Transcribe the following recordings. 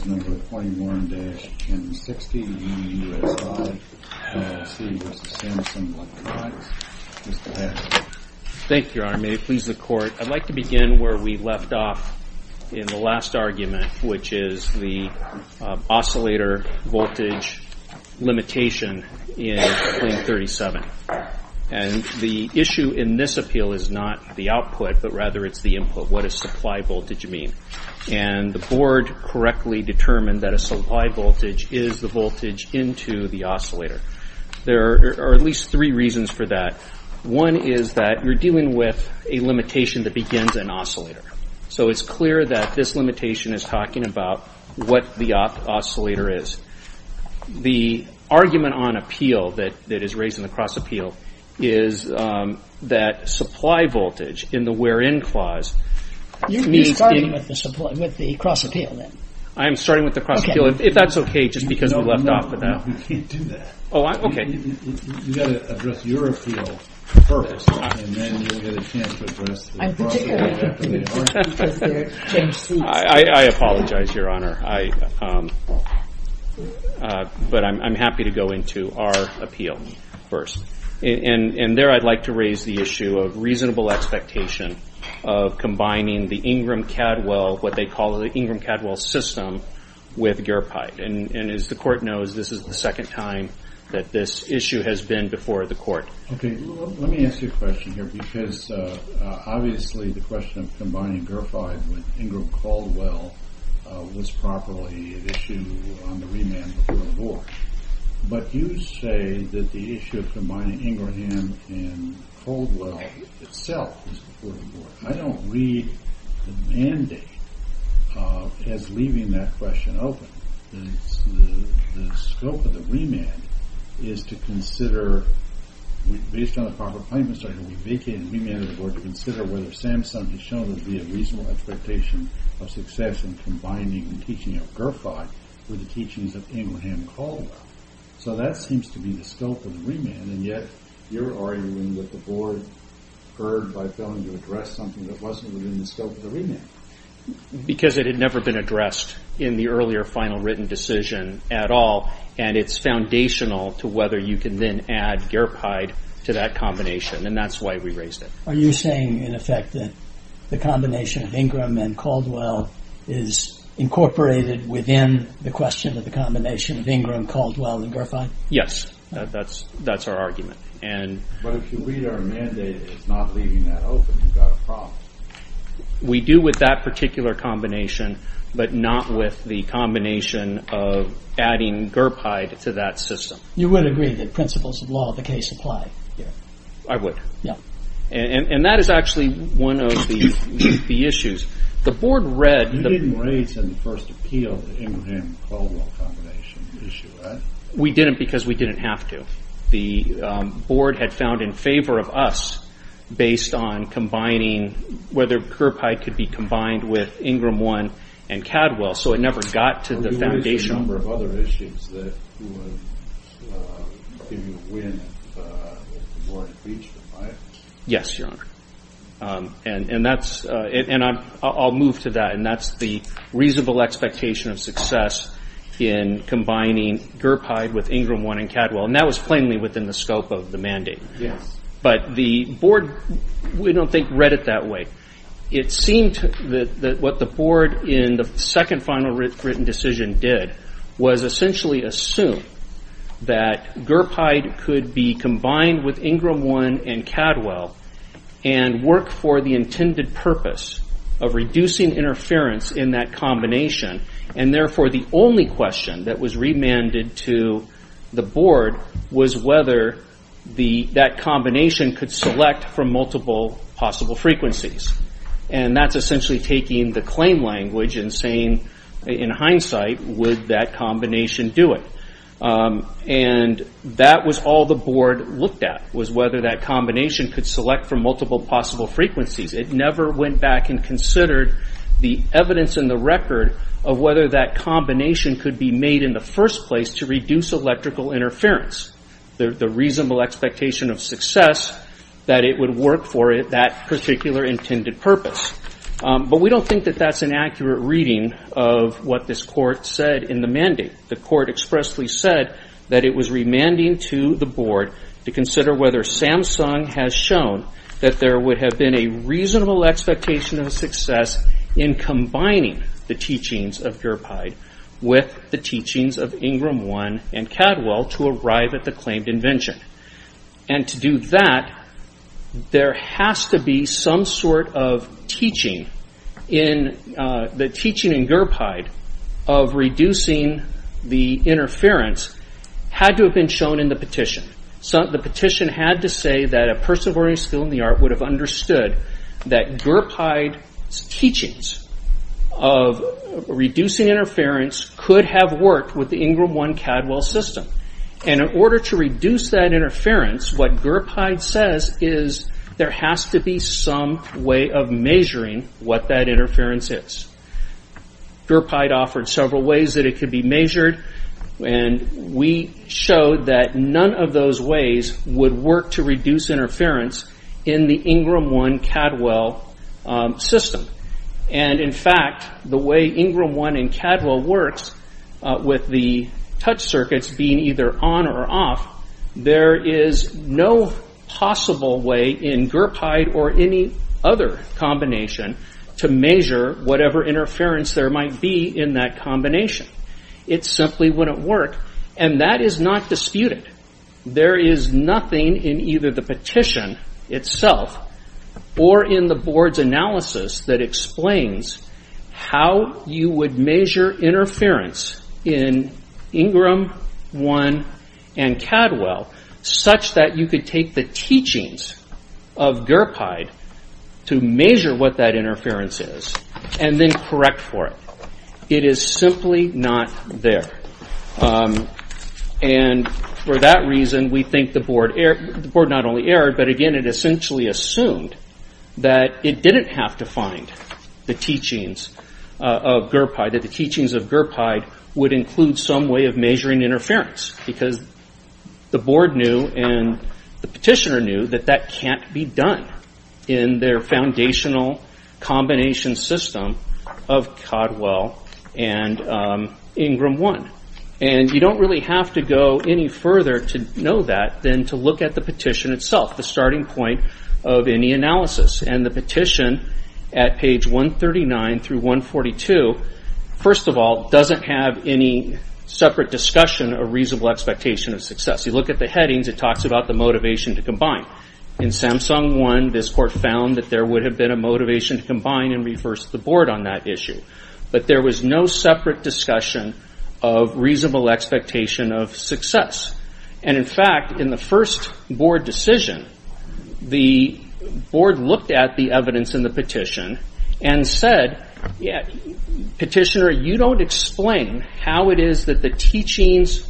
Thank you, Your Honor. May it please the Court, I'd like to begin where we left off in the last argument, which is the oscillator voltage limitation in claim 37. And the issue in this appeal is not the output, but rather it's the input. What does supply voltage mean? And the Board correctly determined that a supply voltage is the voltage into the oscillator. There are at least three reasons for that. One is that you're dealing with a limitation that begins an oscillator. So it's clear that this limitation is talking about what the oscillator is. The argument on appeal that is raised in the cross appeal is that supply voltage in the wherein clause. You're starting with the cross appeal then? I'm starting with the cross appeal, if that's okay, just because we left off with that. No, no, you can't do that. Oh, okay. You've got to address your appeal purpose, and then you'll get a chance to address the cross appeal purpose. I'm particularly happy with the change seats. I apologize, Your Honor, but I'm happy to go into our appeal first. And there I'd like to raise the issue of reasonable expectation of combining the Ingram-Cadwell, what they call the Ingram-Cadwell system, with GERPIDE. And as the Court knows, this is the second time that this issue has been before the Court. Okay, let me ask you a question here, because obviously the question of combining GERPIDE with Ingram-Caldwell was properly an issue on the remand before the war. But you say that the issue of combining Ingraham and Caldwell itself was before the board. I don't read the mandate as leaving that question open. The scope of the remand is to consider, based on the proper plaintiff's argument, we vacate the remand of the board to consider whether SAMHSA has shown there to be a reasonable expectation of success in combining the teaching of GERPIDE with the teachings of Ingraham-Caldwell. So that seems to be the scope of the remand. And yet, you're arguing that the board occurred by failing to address something that wasn't within the scope of the remand. Because it had never been addressed in the earlier final written decision at all. And it's foundational to whether you can then add GERPIDE to that combination. And that's why we raised it. Are you saying, in effect, that the combination of Ingraham and Caldwell is incorporated within the question of the combination of Ingraham-Caldwell and GERPIDE? Yes, that's our argument. But if you read our mandate as not leaving that open, you've got a problem. We do with that particular combination, but not with the combination of adding GERPIDE to that system. You would agree that principles of law of the case apply here? I would. And that is actually one of the issues. The board read... You didn't raise in the first appeal the Ingraham-Caldwell combination issue, right? We didn't because we didn't have to. The board had found in favor of us based on combining, whether GERPIDE could be combined with Ingraham-1 and Caldwell. So it never got to the foundation. Yes, Your Honor. And I'll move to that. And that's the reasonable expectation of success in combining GERPIDE with Ingraham-1 and Caldwell. And that was plainly within the scope of the mandate. But the board, we don't think, read it that way. It seemed that what the board in the second final written decision did was essentially assume that GERPIDE could be combined with Ingraham-1 and Caldwell and work for the intended purpose of reducing interference in that combination. And therefore, the only question that was remanded to the board was whether that combination could select from multiple possible frequencies. And that's essentially taking the claim language and saying, in hindsight, would that combination do it? And that was all the board looked at, was whether that combination could select from multiple possible frequencies. It never went back and considered the evidence in the record of whether that combination could be made in the first place to reduce electrical interference. The reasonable expectation of success that it would work for that particular intended purpose. But we don't think that that's an accurate reading of what this court said in the mandate. The court expressly said that it was remanding to the board to consider whether Samsung has shown that there would have been a reasonable expectation of success in combining the teachings of GERPIDE with the teachings of Ingraham-1 and Caldwell to arrive at the claimed invention. And to do that, there has to be some sort of teaching. The teaching in GERPIDE of reducing the interference had to have been shown in the petition. The petition had to say that a person of learning skill in the art would have understood that GERPIDE's teachings of reducing interference could have worked with the Ingraham-1-Caldwell system. And in order to reduce that interference, what GERPIDE says is there has to be some way of measuring what that interference is. GERPIDE offered several ways that it could be measured, and we showed that none of those ways would work to reduce interference in the Ingraham-1-Caldwell system. And in fact, the way Ingraham-1 and Caldwell works with the touch circuits being either on or off, there is no possible way in GERPIDE or any other combination to measure whatever interference there might be in that combination. It simply wouldn't work, and that is not disputed. There is nothing in either the petition itself or in the board's analysis that explains how you would measure interference in Ingraham-1 and Caldwell such that you could take the teachings of GERPIDE to measure what that interference is and then correct for it. It is simply not there. And for that reason, we think the board not only erred, but again, it essentially assumed that it didn't have to find the teachings of GERPIDE, that the teachings of GERPIDE would include some way of measuring interference. Because the board knew and the petitioner knew that that can't be done in their foundational combination system of Caldwell and Ingraham-1. And you don't really have to go any further to know that than to look at the petition itself, the starting point of any analysis. And the petition at page 139 through 142, first of all, doesn't have any separate discussion of reasonable expectation of success. You look at the headings, it talks about the motivation to combine. In SAMSUNG-1, this court found that there would have been a motivation to combine and reverse the board on that issue. But there was no separate discussion of reasonable expectation of success. And in fact, in the first board decision, the board looked at the evidence in the petition and said, petitioner, you don't explain how it is that the teachings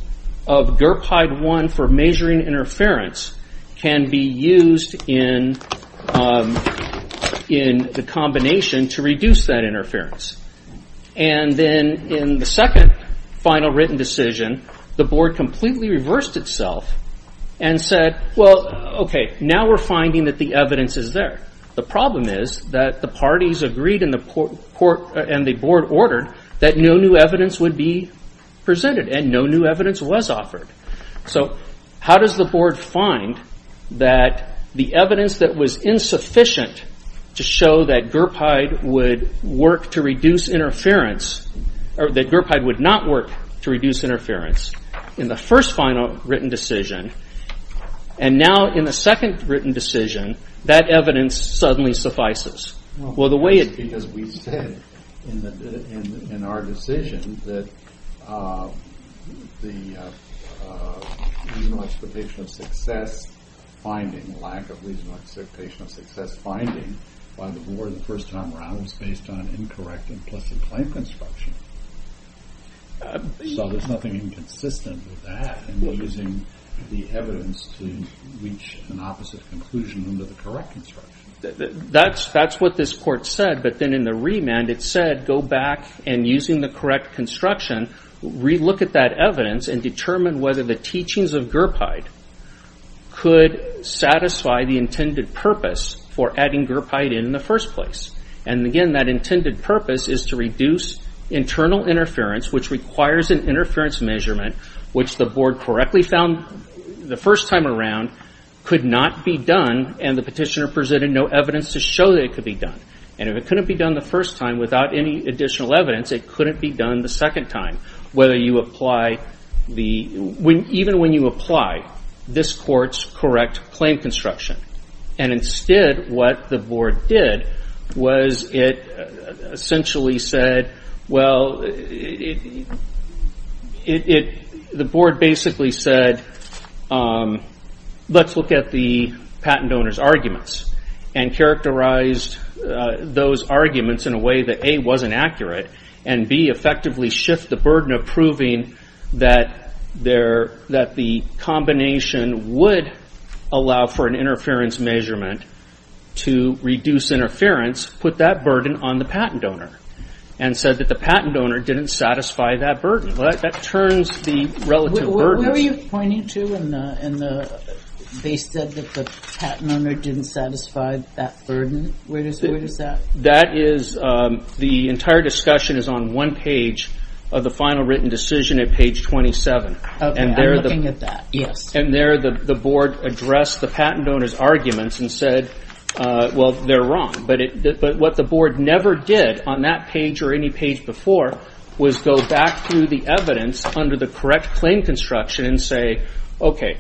of GERPIDE-1 for measuring interference can be used in the combination to reduce that interference. And then in the second final written decision, the board completely reversed itself and said, well, okay, now we're finding that the evidence is there. The problem is that the parties agreed and the board ordered that no new evidence would be presented and no new evidence was offered. So how does the board find that the evidence that was insufficient to show that GERPIDE would work to reduce interference, or that GERPIDE would not work to reduce interference in the first final written decision, and now in the second written decision, that evidence suddenly suffices? Well, that's because we said in our decision that the reasonable expectation of success finding, lack of reasonable expectation of success finding by the board in the first time around was based on incorrect implicit claim construction. So there's nothing inconsistent with that in using the evidence to reach an opposite conclusion under the correct construction. That's what this court said, but then in the remand it said, go back and using the correct construction, re-look at that evidence and determine whether the teachings of GERPIDE could satisfy the intended purpose for adding GERPIDE in the first place. And again, that intended purpose is to reduce internal interference, which requires an interference measurement, which the board correctly found the first time around could not be done, and the petitioner presented no evidence to show that it could be done. And if it couldn't be done the first time without any additional evidence, it couldn't be done the second time, even when you apply this court's correct claim construction. And instead, what the board did was it essentially said, well, the board basically said, let's look at the patent owner's arguments and characterize those arguments in a way that A, wasn't accurate, and B, effectively shift the burden of proving that the combination would allow for an interference measurement to reduce interference, put that burden on the patent owner, and said that the patent owner didn't satisfy that burden. That turns the relative burden. Where were you pointing to in the, they said that the patent owner didn't satisfy that burden, where does that? That is, the entire discussion is on one page of the final written decision at page 27. I'm looking at that, yes. And there, the board addressed the patent owner's arguments and said, well, they're wrong. But what the board never did on that page or any page before was go back through the evidence under the correct claim construction and say, okay,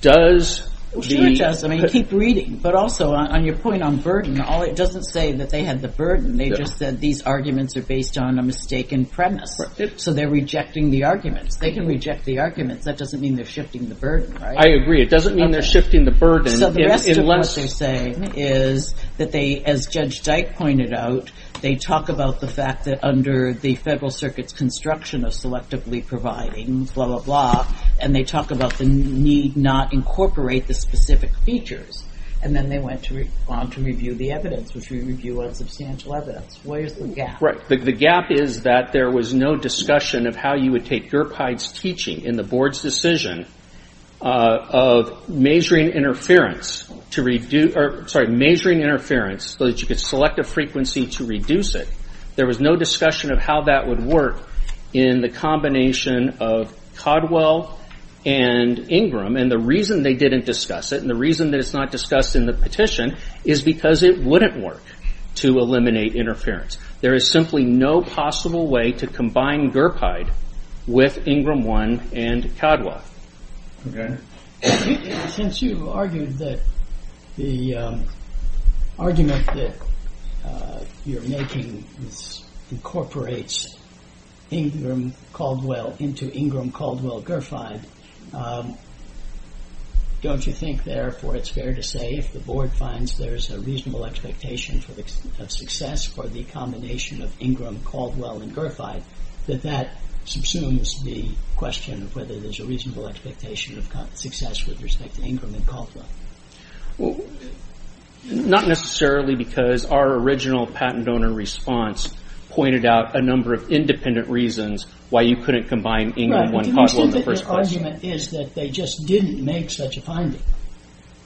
does the- Sure it does, I mean, keep reading. But also, on your point on burden, it doesn't say that they had the burden, they just said these arguments are based on a mistaken premise. So they're rejecting the arguments. They can reject the arguments, that doesn't mean they're shifting the burden, right? I agree, it doesn't mean they're shifting the burden unless- So the rest of what they're saying is that they, as Judge Dyke pointed out, they talk about the fact that under the Federal Circuit's construction of selectively providing, blah, blah, blah, and they talk about the need not incorporate the specific features. And then they went on to review the evidence, which we review on substantial evidence. Where's the gap? The gap is that there was no discussion of how you would take Gerpide's teaching in the board's decision of measuring interference to reduce- Sorry, measuring interference so that you could select a frequency to reduce it. There was no discussion of how that would work in the combination of Codwell and Ingram. And the reason they didn't discuss it, and the reason that it's not discussed in the petition, is because it wouldn't work to eliminate interference. There is simply no possible way to combine Gerpide with Ingram 1 and Codwell. Okay. Since you argued that the argument that you're making incorporates Ingram Caldwell into Ingram Caldwell-Gerpide, don't you think, therefore, it's fair to say if the board finds there's a reasonable expectation of success for the combination of Ingram, Caldwell, and Gerpide, that that subsumes the question of whether there's a reasonable expectation of success with respect to Ingram and Caldwell? Well, not necessarily because our original patent donor response pointed out a number of independent reasons why you couldn't combine Ingram 1 and Codwell in the first place. The argument is that they just didn't make such a finding.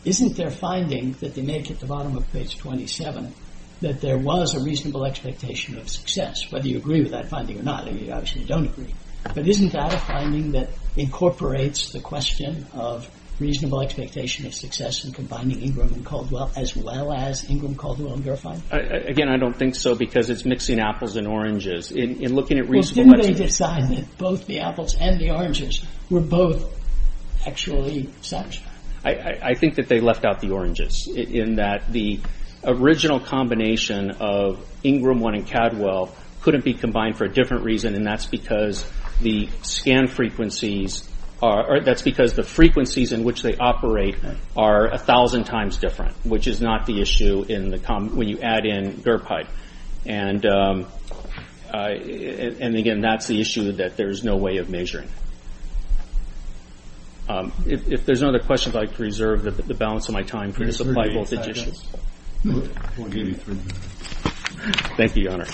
Isn't their finding that they make at the bottom of page 27 that there was a reasonable expectation of success? Whether you agree with that finding or not, and you obviously don't agree. But isn't that a finding that incorporates the question of reasonable expectation of success in combining Ingram and Caldwell as well as Ingram Caldwell and Gerpide? Again, I don't think so because it's mixing apples and oranges. Well, didn't they decide that both the apples and the oranges were both actually such? I think that they left out the oranges in that the original combination of Ingram 1 and Caldwell couldn't be combined for a different reason and that's because the frequencies in which they operate are a thousand times different which is not the issue when you add in Gerpide. And again, that's the issue that there's no way of measuring. If there's no other questions, I'd like to reserve the balance of my time for the supply voltage issue. Thank you, Your Honor.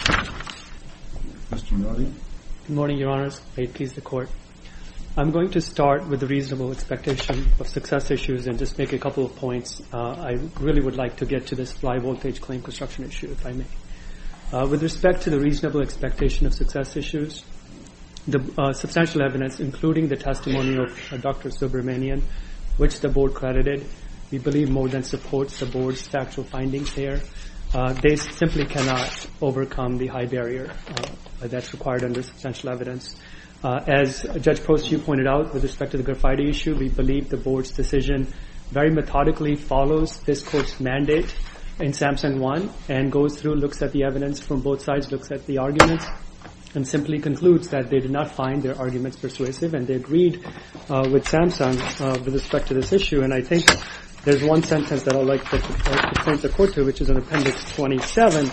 Good morning, Your Honors. May it please the Court. I'm going to start with the reasonable expectation of success issues and just make a couple of points. I really would like to get to this supply voltage claim construction issue, if I may. With respect to the reasonable expectation of success issues, the substantial evidence, including the testimony of Dr. Subramanian, which the Board credited, we believe more than supports the Board's factual findings here. They simply cannot overcome the high barrier that's required under substantial evidence. As Judge Post, you pointed out, with respect to the Gerpide issue, we believe the Board's decision very methodically follows this Court's mandate in SAMSUN 1 and goes through, looks at the evidence from both sides, looks at the arguments and simply concludes that they did not find their arguments persuasive and they agreed with SAMSUN with respect to this issue. And I think there's one sentence that I'd like to present the Court to which is in Appendix 27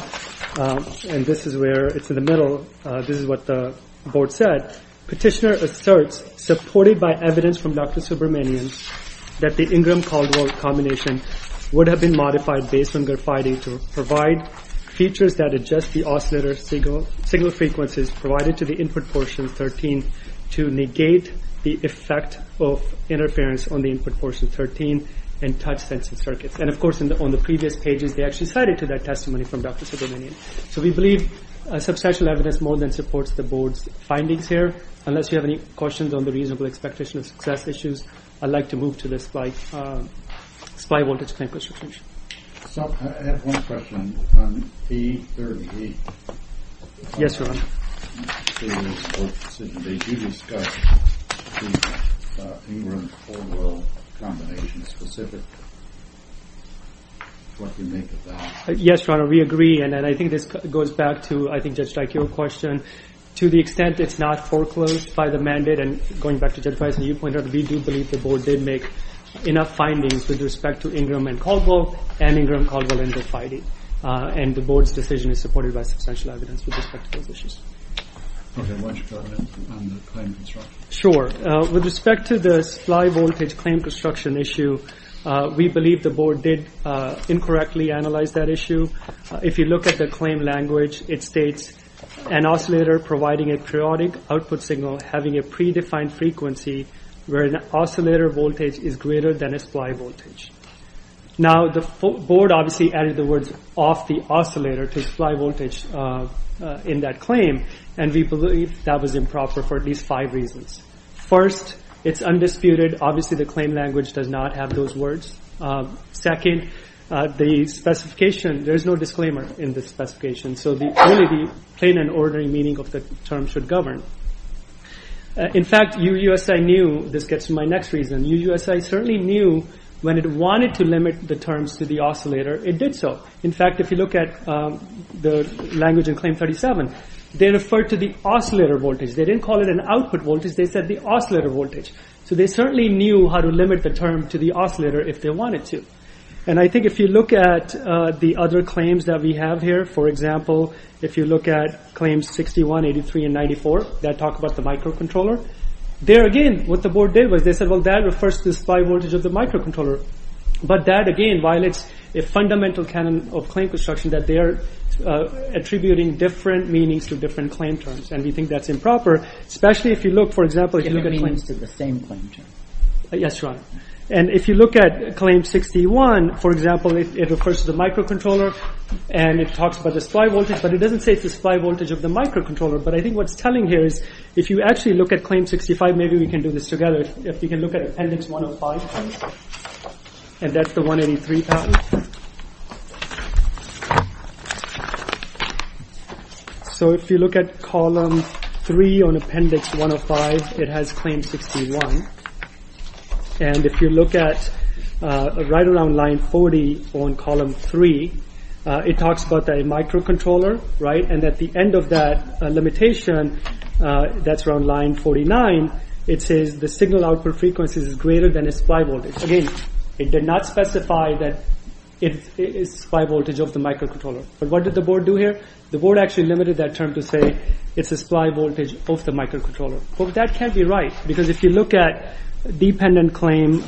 and this is where, it's in the middle, this is what the Board said. Petitioner asserts, supported by evidence from Dr. Subramanian, that the Ingram-Caldwell combination would have been modified based on Gerpide to provide features that adjust the oscillator signal frequencies provided to the input portion 13 to negate the effect of interference on the input portion 13 and touch sensing circuits. And of course, on the previous pages, they actually cited to that testimony from Dr. Subramanian. So we believe substantial evidence more than supports the Board's findings here. Unless you have any questions on the reasonable expectation of success issues, I'd like to move to the SPI Voltage Clamp Restriction. I have one question. Yes, Your Honor. In the previous Court decision page, you discussed the Ingram-Caldwell combination specifically. What do you make of that? Yes, Your Honor, we agree. And I think this goes back to, I think, Judge Dyke, your question. To the extent it's not foreclosed by the mandate, and going back to Judge Weissman, you pointed out that we do believe the Board did make enough findings with respect to Ingram-Caldwell and Ingram-Caldwell in the FIDI. And the Board's decision is supported by substantial evidence with respect to those issues. Okay, why don't you go ahead on the claim construction? Sure. With respect to the supply voltage claim construction issue, we believe the Board did incorrectly analyze that issue. If you look at the claim language, it states, an oscillator providing a periodic output signal having a predefined frequency where an oscillator voltage is greater than a supply voltage. Now, the Board obviously added the words, off the oscillator to supply voltage in that claim, and we believe that was improper for at least five reasons. First, it's undisputed, obviously the claim language does not have those words. Second, the specification, there's no disclaimer in the specification, so only the plain and ordinary meaning of the term should govern. In fact, UUSI knew, this gets to my next reason, UUSI certainly knew when it wanted to limit the terms to the oscillator, it did so. In fact, if you look at the language in Claim 37, they referred to the oscillator voltage. They didn't call it an output voltage, they said the oscillator voltage. So they certainly knew how to limit the term to the oscillator if they wanted to. And I think if you look at the other claims that we have here, for example, if you look at Claims 61, 83, and 94, that talk about the microcontroller, there again, what the board did was they said, well, that refers to the supply voltage of the microcontroller. But that again violates a fundamental canon of claim construction that they are attributing different meanings to different claim terms, and we think that's improper, especially if you look, for example, if you look at claims to the same claim term. Yes, right. And if you look at Claim 61, for example, it refers to the microcontroller, and it talks about the supply voltage, but it doesn't say it's the supply voltage of the microcontroller. But I think what it's telling here is, if you actually look at Claim 65, maybe we can do this together. If you can look at Appendix 105, and that's the 183 patent. So if you look at Column 3 on Appendix 105, it has Claim 61. And if you look at right around Line 40 on Column 3, it talks about the microcontroller, right? And at the end of that limitation, that's around Line 49, it says the signal output frequency is greater than the supply voltage. Again, it did not specify that it's the supply voltage of the microcontroller. But what did the board do here? The board actually limited that term to say it's the supply voltage of the microcontroller. But that can't be right, because if you look at Dependent Claim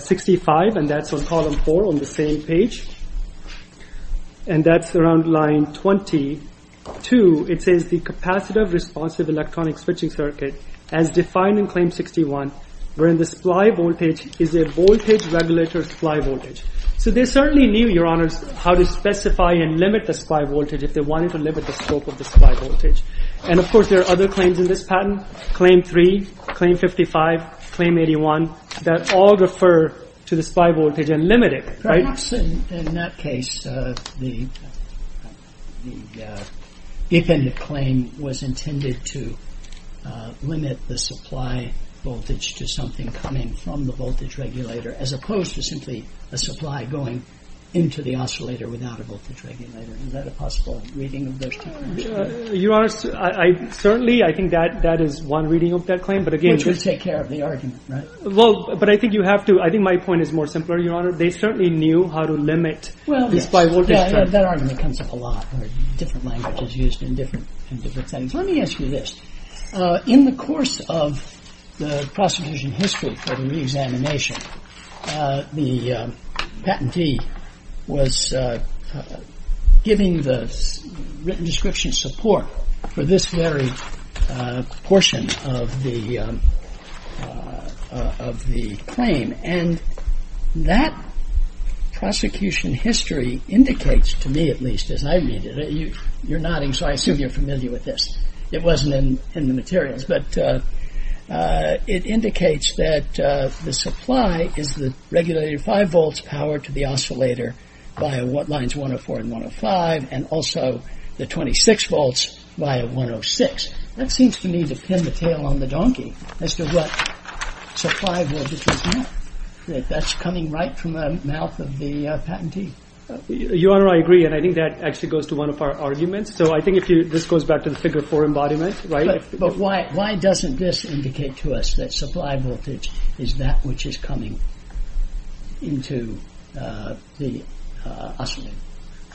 65, and that's on Column 4 on the same page, and that's around Line 22, it says the capacitive responsive electronic switching circuit as defined in Claim 61, wherein the supply voltage is a voltage regulator supply voltage. So they certainly knew, Your Honors, how to specify and limit the supply voltage if they wanted to limit the scope of the supply voltage. And of course there are other claims in this patent, Claim 3, Claim 55, Claim 81, that all refer to the supply voltage and limit it, right? Perhaps in that case, the Dependent Claim was intended to limit the supply voltage to something coming from the voltage regulator, as opposed to simply a supply going into the oscillator without a voltage regulator. Is that a possible reading of those claims? Your Honors, certainly I think that is one reading of that claim, but again... Which would take care of the argument, right? Well, but I think you have to... I think my point is more simpler, Your Honor. They certainly knew how to limit the supply voltage. That argument comes up a lot. Different languages used in different settings. Let me ask you this. In the course of the prosecution history for the re-examination, the patentee was giving the written description support for this very portion of the claim. And that prosecution history indicates, to me at least, as I read it... You're nodding, so I assume you're familiar with this. It wasn't in the materials. But it indicates that the supply is the regulator 5 volts powered to the oscillator via lines 104 and 105, and also the 26 volts via 106. That seems to me to pin the tail on the donkey as to what supply voltage is now. That's coming right from the mouth of the patentee. Your Honor, I agree, and I think that actually goes to one of our arguments. So I think this goes back to the figure 4 embodiment, right? But why doesn't this indicate to us that supply voltage is that which is coming into the oscillator?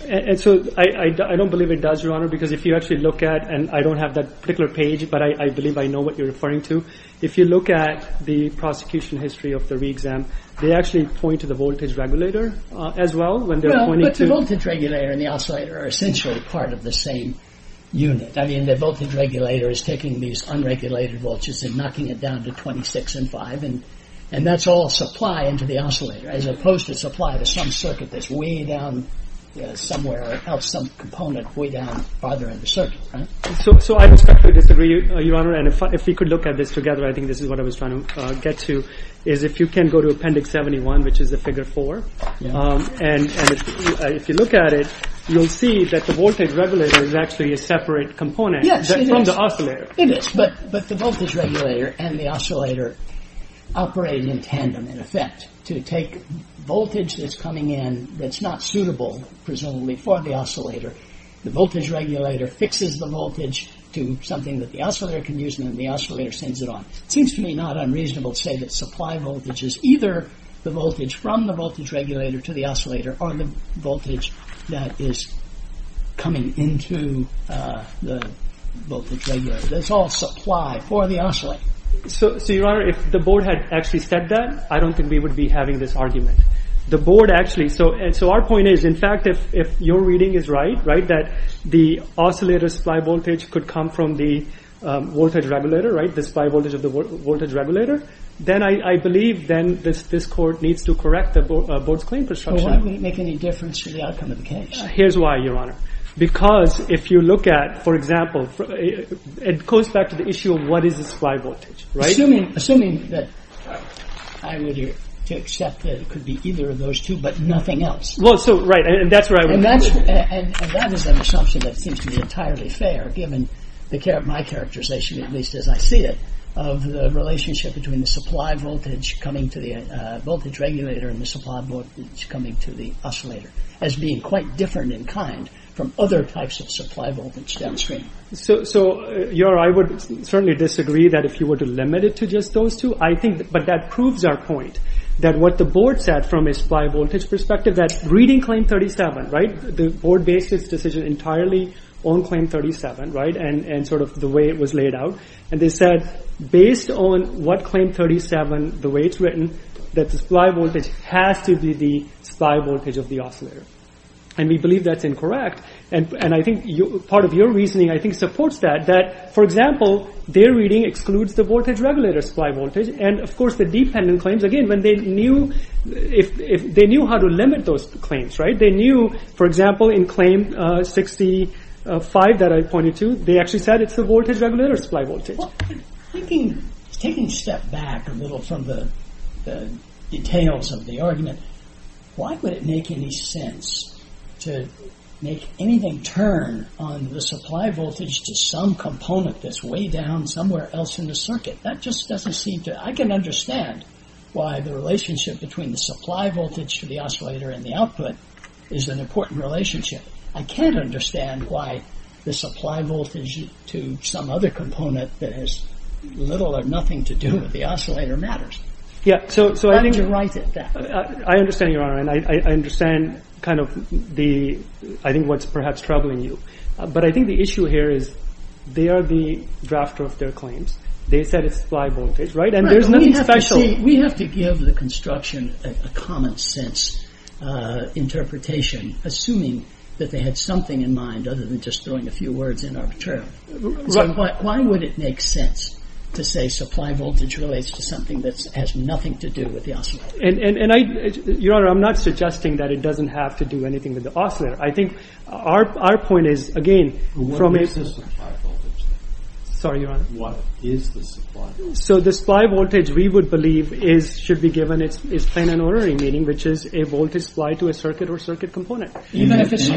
And so I don't believe it does, Your Honor, because if you actually look at... And I don't have that particular page, but I believe I know what you're referring to. If you look at the prosecution history of the re-exam, they actually point to the voltage regulator as well, when they're pointing to... But the voltage regulator and the oscillator are essentially part of the same unit. I mean, the voltage regulator is taking these unregulated voltages and knocking it down to 26 and 5, and that's all supply into the oscillator, as opposed to supply to some circuit that's way down somewhere else, some component way down farther in the circuit, right? So I respectfully disagree, Your Honor, and if we could look at this together, I think this is what I was trying to get to, is if you can go to Appendix 71, which is the figure 4, and if you look at it, you'll see that the voltage regulator is actually a separate component from the oscillator. Yes, it is, but the voltage regulator and the oscillator operate in tandem, in effect. To take voltage that's coming in that's not suitable, presumably, for the oscillator, the voltage regulator fixes the voltage to something that the oscillator can use and then the oscillator sends it on. It seems to me not unreasonable to say that supply voltage is either the voltage from the voltage regulator to the oscillator, or the voltage that is coming into the voltage regulator. That's all supply for the oscillator. So, Your Honor, if the board had actually said that, I don't think we would be having this argument. The board actually... So our point is, in fact, if your reading is right, that the oscillator's supply voltage could come from the voltage regulator, the supply voltage of the voltage regulator, then I believe this court needs to correct the board's claim. It won't make any difference to the outcome of the case. Here's why, Your Honor. Because if you look at, for example, it goes back to the issue of what is the supply voltage. Assuming that... I would accept that it could be either of those two, but nothing else. Right, and that's where I would... And that is an assumption that seems to be entirely fair, given my characterization, at least as I see it, of the relationship between the supply voltage coming to the voltage regulator and the supply voltage coming to the oscillator, as being quite different in kind from other types of supply voltage downstream. So, Your Honor, I would certainly disagree that if you were to limit it to just those two. But that proves our point, that what the board said from a supply voltage perspective, that reading Claim 37, the board based its decision entirely on Claim 37, and sort of the way it was laid out. And they said, based on what Claim 37, the way it's written, that the supply voltage has to be the supply voltage of the oscillator. And we believe that's incorrect. And I think part of your reasoning, I think, supports that. That, for example, their reading excludes the voltage regulator's supply voltage. And, of course, the dependent claims, again, when they knew... They knew, for example, in Claim 65, that I pointed to, they actually said it's the voltage regulator's supply voltage. Well, taking a step back a little from the details of the argument, why would it make any sense to make anything turn on the supply voltage to some component that's way down somewhere else in the circuit? That just doesn't seem to... I can understand why the relationship between the supply voltage for the oscillator and the output is an important relationship. I can't understand why the supply voltage to some other component that has little or nothing to do with the oscillator matters. How would you write it down? I understand, Your Honor, and I understand, I think, what's perhaps troubling you. But I think the issue here is they are the drafter of their claims. They said it's supply voltage, right? We have to give the construction a common sense interpretation assuming that they had something in mind other than just throwing a few words in arbitrarily. So why would it make sense to say supply voltage relates to something that has nothing to do with the oscillator? Your Honor, I'm not suggesting that it doesn't have to do anything with the oscillator. I think our point is, again, from a... Sorry, Your Honor. What is the supply? So the supply voltage, we would believe, should be given its plain and ornery meaning, which is a voltage supply to a circuit or circuit component. Even if it's...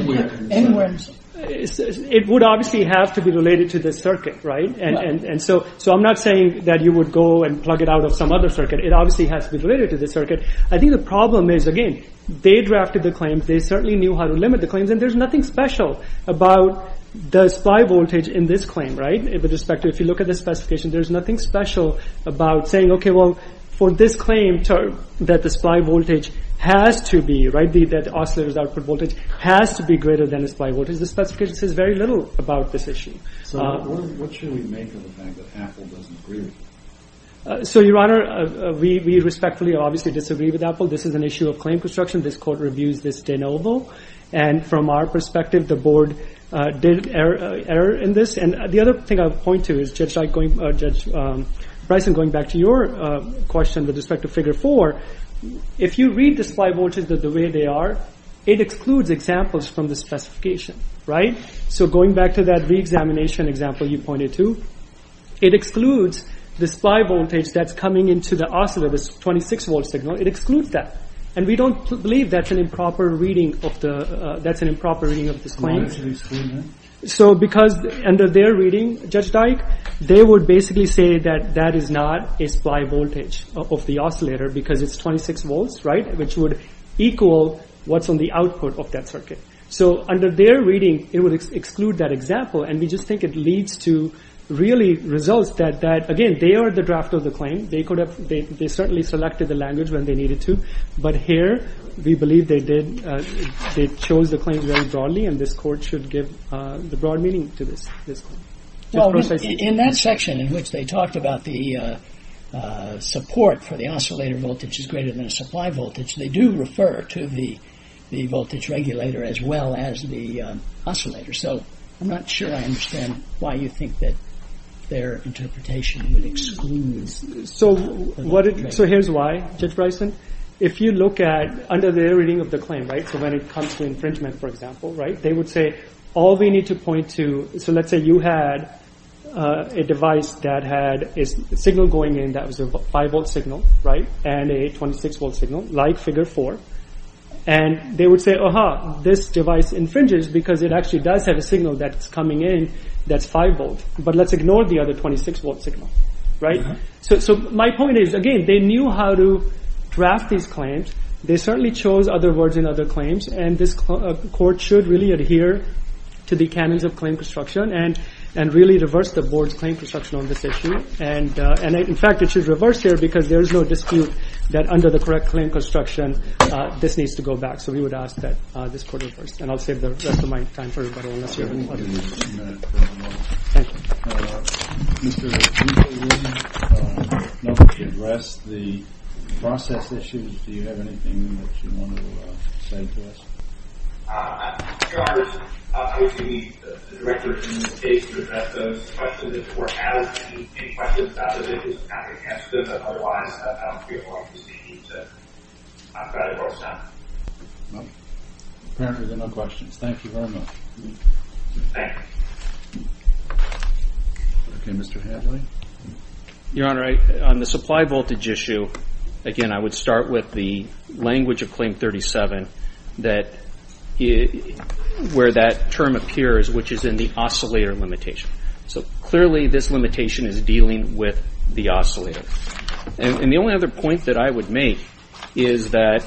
It would obviously have to be related to the circuit, right? And so I'm not saying that you would go and plug it out of some other circuit. It obviously has to be related to the circuit. I think the problem is, again, they drafted the claims, they certainly knew how to limit the claims, and there's nothing special about the supply voltage in this claim, right? If you look at the specification, there's nothing special about saying, okay, well, for this claim that the supply voltage has to be, right, that the oscillator's output voltage has to be greater than the supply voltage. The specification says very little about this issue. So what should we make of the fact that Apple doesn't agree with it? So, Your Honor, we respectfully obviously disagree with Apple. This is an issue of claim construction. This Court reviews this de novo. And from our perspective, the Board did err in this. And the other thing I would point to is, Judge Bryson, going back to your question with respect to Figure 4, if you read the supply voltage the way they are, it excludes examples from the specification, right? So going back to that re-examination example you pointed to, it excludes the supply voltage that's coming into the oscillator, this 26-volt signal, it excludes that. And we don't believe that's an improper reading of this claim. So because under their reading, Judge Dyke, they would basically say that that is not a supply voltage of the oscillator because it's 26 volts, right, which would equal what's on the output of that circuit. So under their reading, it would exclude that example. And we just think it leads to really results that again, they are the drafter of the claim. They certainly selected the language when they needed to. But here, we believe they chose the claim very broadly and this court should give the broad meaning to this. Well, in that section in which they talked about the support for the oscillator voltage is greater than the supply voltage, they do refer to the voltage regulator as well as the oscillator. So I'm not sure I understand why you think that their interpretation would exclude this. So here's why, Judge Bryson. If you look at, under their reading of the claim, so when it comes to infringement, for example, they would say all we need to point to, so let's say you had a device that had a signal going in that was a 5 volt signal, and a 26 volt signal, like figure 4, and they would say, aha, this device infringes because it actually does have a signal that's coming in that's 5 volt. But let's ignore the other 26 volt signal. So my point is, again, they knew how to draft these claims. They certainly chose other words in other claims, and this court should really adhere to the canons of claim construction and really reverse the board's claim construction on this issue. And in fact, it should reverse here because there is no dispute that under the correct claim construction this needs to go back. So we would ask that this court reverse. And I'll save the rest of my time for everyone else here. Thank you. Mr. O'Keefe, would you like to address the process issues? Do you have anything that you want to say to us? Your Honor, I was going to meet the director in this case to address those questions. If the court has any questions about it, it is not requested. Otherwise, I don't feel like speaking to Dr. Goldstein. Apparently there are no questions. Thank you very much. Thank you. Okay, Mr. Hadley. Your Honor, on the supply voltage issue, again, I would start with the language of Claim 37 where that term appears, which is in the oscillator limitation. So clearly this limitation is dealing with the oscillator. And the only other point that I would make is that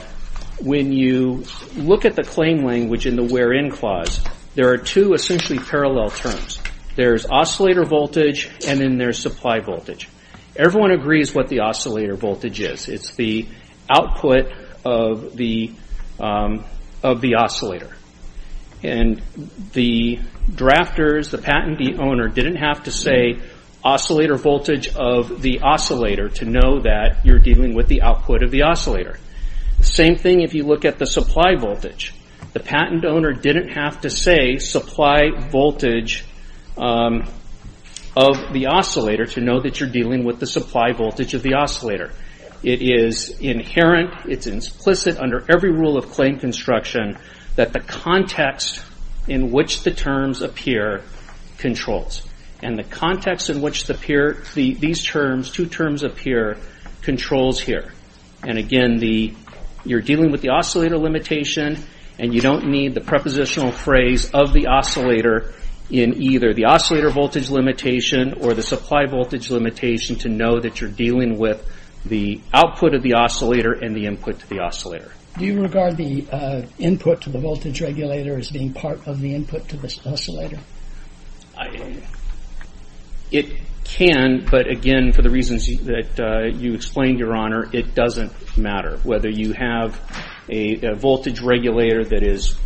when you look at the claim language in the where-in clause, there are two essentially parallel terms. There's oscillator voltage and then there's supply voltage. Everyone agrees what the oscillator voltage is. It's the output of the oscillator. And the drafters, the patent owner, didn't have to say oscillator voltage of the oscillator to know that you're dealing with the output of the oscillator. Same thing if you look at the supply voltage. The patent owner didn't have to say supply voltage of the oscillator to know that you're dealing with the supply voltage of the oscillator. It is inherent, it's implicit under every rule of claim construction that the context in which the terms appear controls. And the context in which these two terms appear controls here. And again, you're dealing with the oscillator limitation and you don't need the prepositional phrase of the oscillator in either the oscillator voltage limitation or the supply voltage limitation to know that you're dealing with the output of the oscillator and the input to the oscillator. Do you regard the input to the voltage regulator as being part of the input to the oscillator? It can, but again, for the reasons that you explained, Your Honor, it doesn't matter whether you have a voltage regulator that is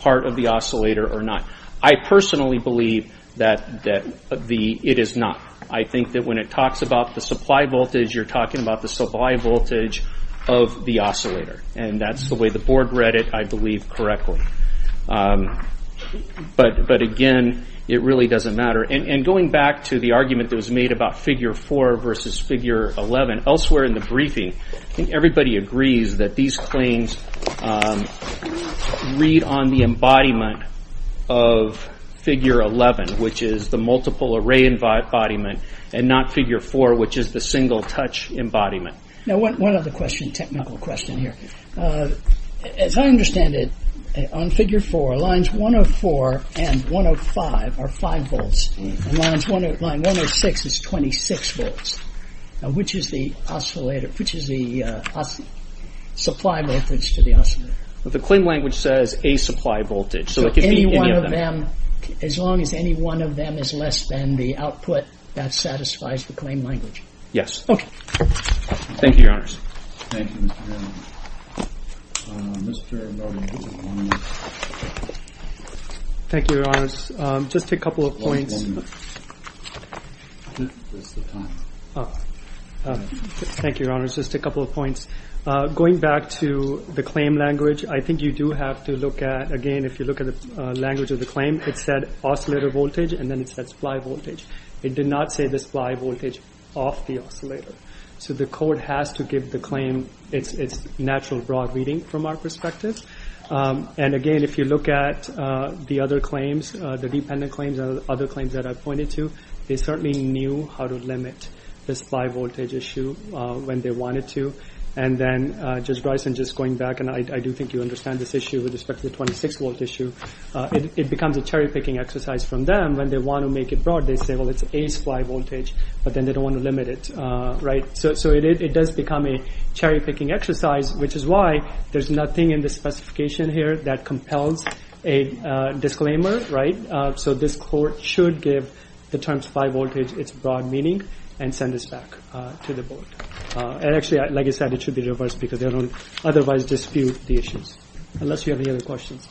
part of the oscillator or not. I personally believe that it is not. I think that when it talks about the supply voltage, you're talking about the supply voltage of the oscillator. And that's the way the board read it, I believe, correctly. But again, it really doesn't matter. And going back to the argument that was made about figure 4 versus figure 11, elsewhere in the briefing, I think everybody agrees that these claims read on the embodiment of figure 11, which is the multiple array embodiment, and not figure 4, which is the single-touch embodiment. Now one other technical question here. As I understand it, on figure 4, lines 104 and 105 are 5 volts. And line 106 is 26 volts. Now which is the supply voltage to the oscillator? The claim language says a supply voltage. So any one of them, as long as any one of them is less than the output, that satisfies the claim language. Thank you, Your Honors. Thank you, Your Honors. Just a couple of points. Thank you, Your Honors. Just a couple of points. Going back to the claim language, I think you do have to look at, again, if you look at the language of the claim, it said oscillator voltage, and then it said supply voltage. It did not say the supply voltage off the oscillator. So the code has to give the claim its natural broad reading from our perspective. And again, if you look at the other claims, the dependent claims and other claims that I pointed to, they certainly knew how to limit the supply voltage issue when they wanted to. And then, Judge Bryson, just going back, and I do think you understand this issue with respect to the 26-volt issue, it becomes a cherry-picking exercise from them when they want to make it broad. They say, well, it's a supply voltage, but then they don't want to limit it. So it does become a cherry-picking exercise, which is why there's nothing in the specification here that compels a disclaimer. So this court should give the terms supply voltage its broad meaning and send this back to the board. And actually, like I said, it should be reversed because they don't otherwise dispute the issues, unless you have any other questions.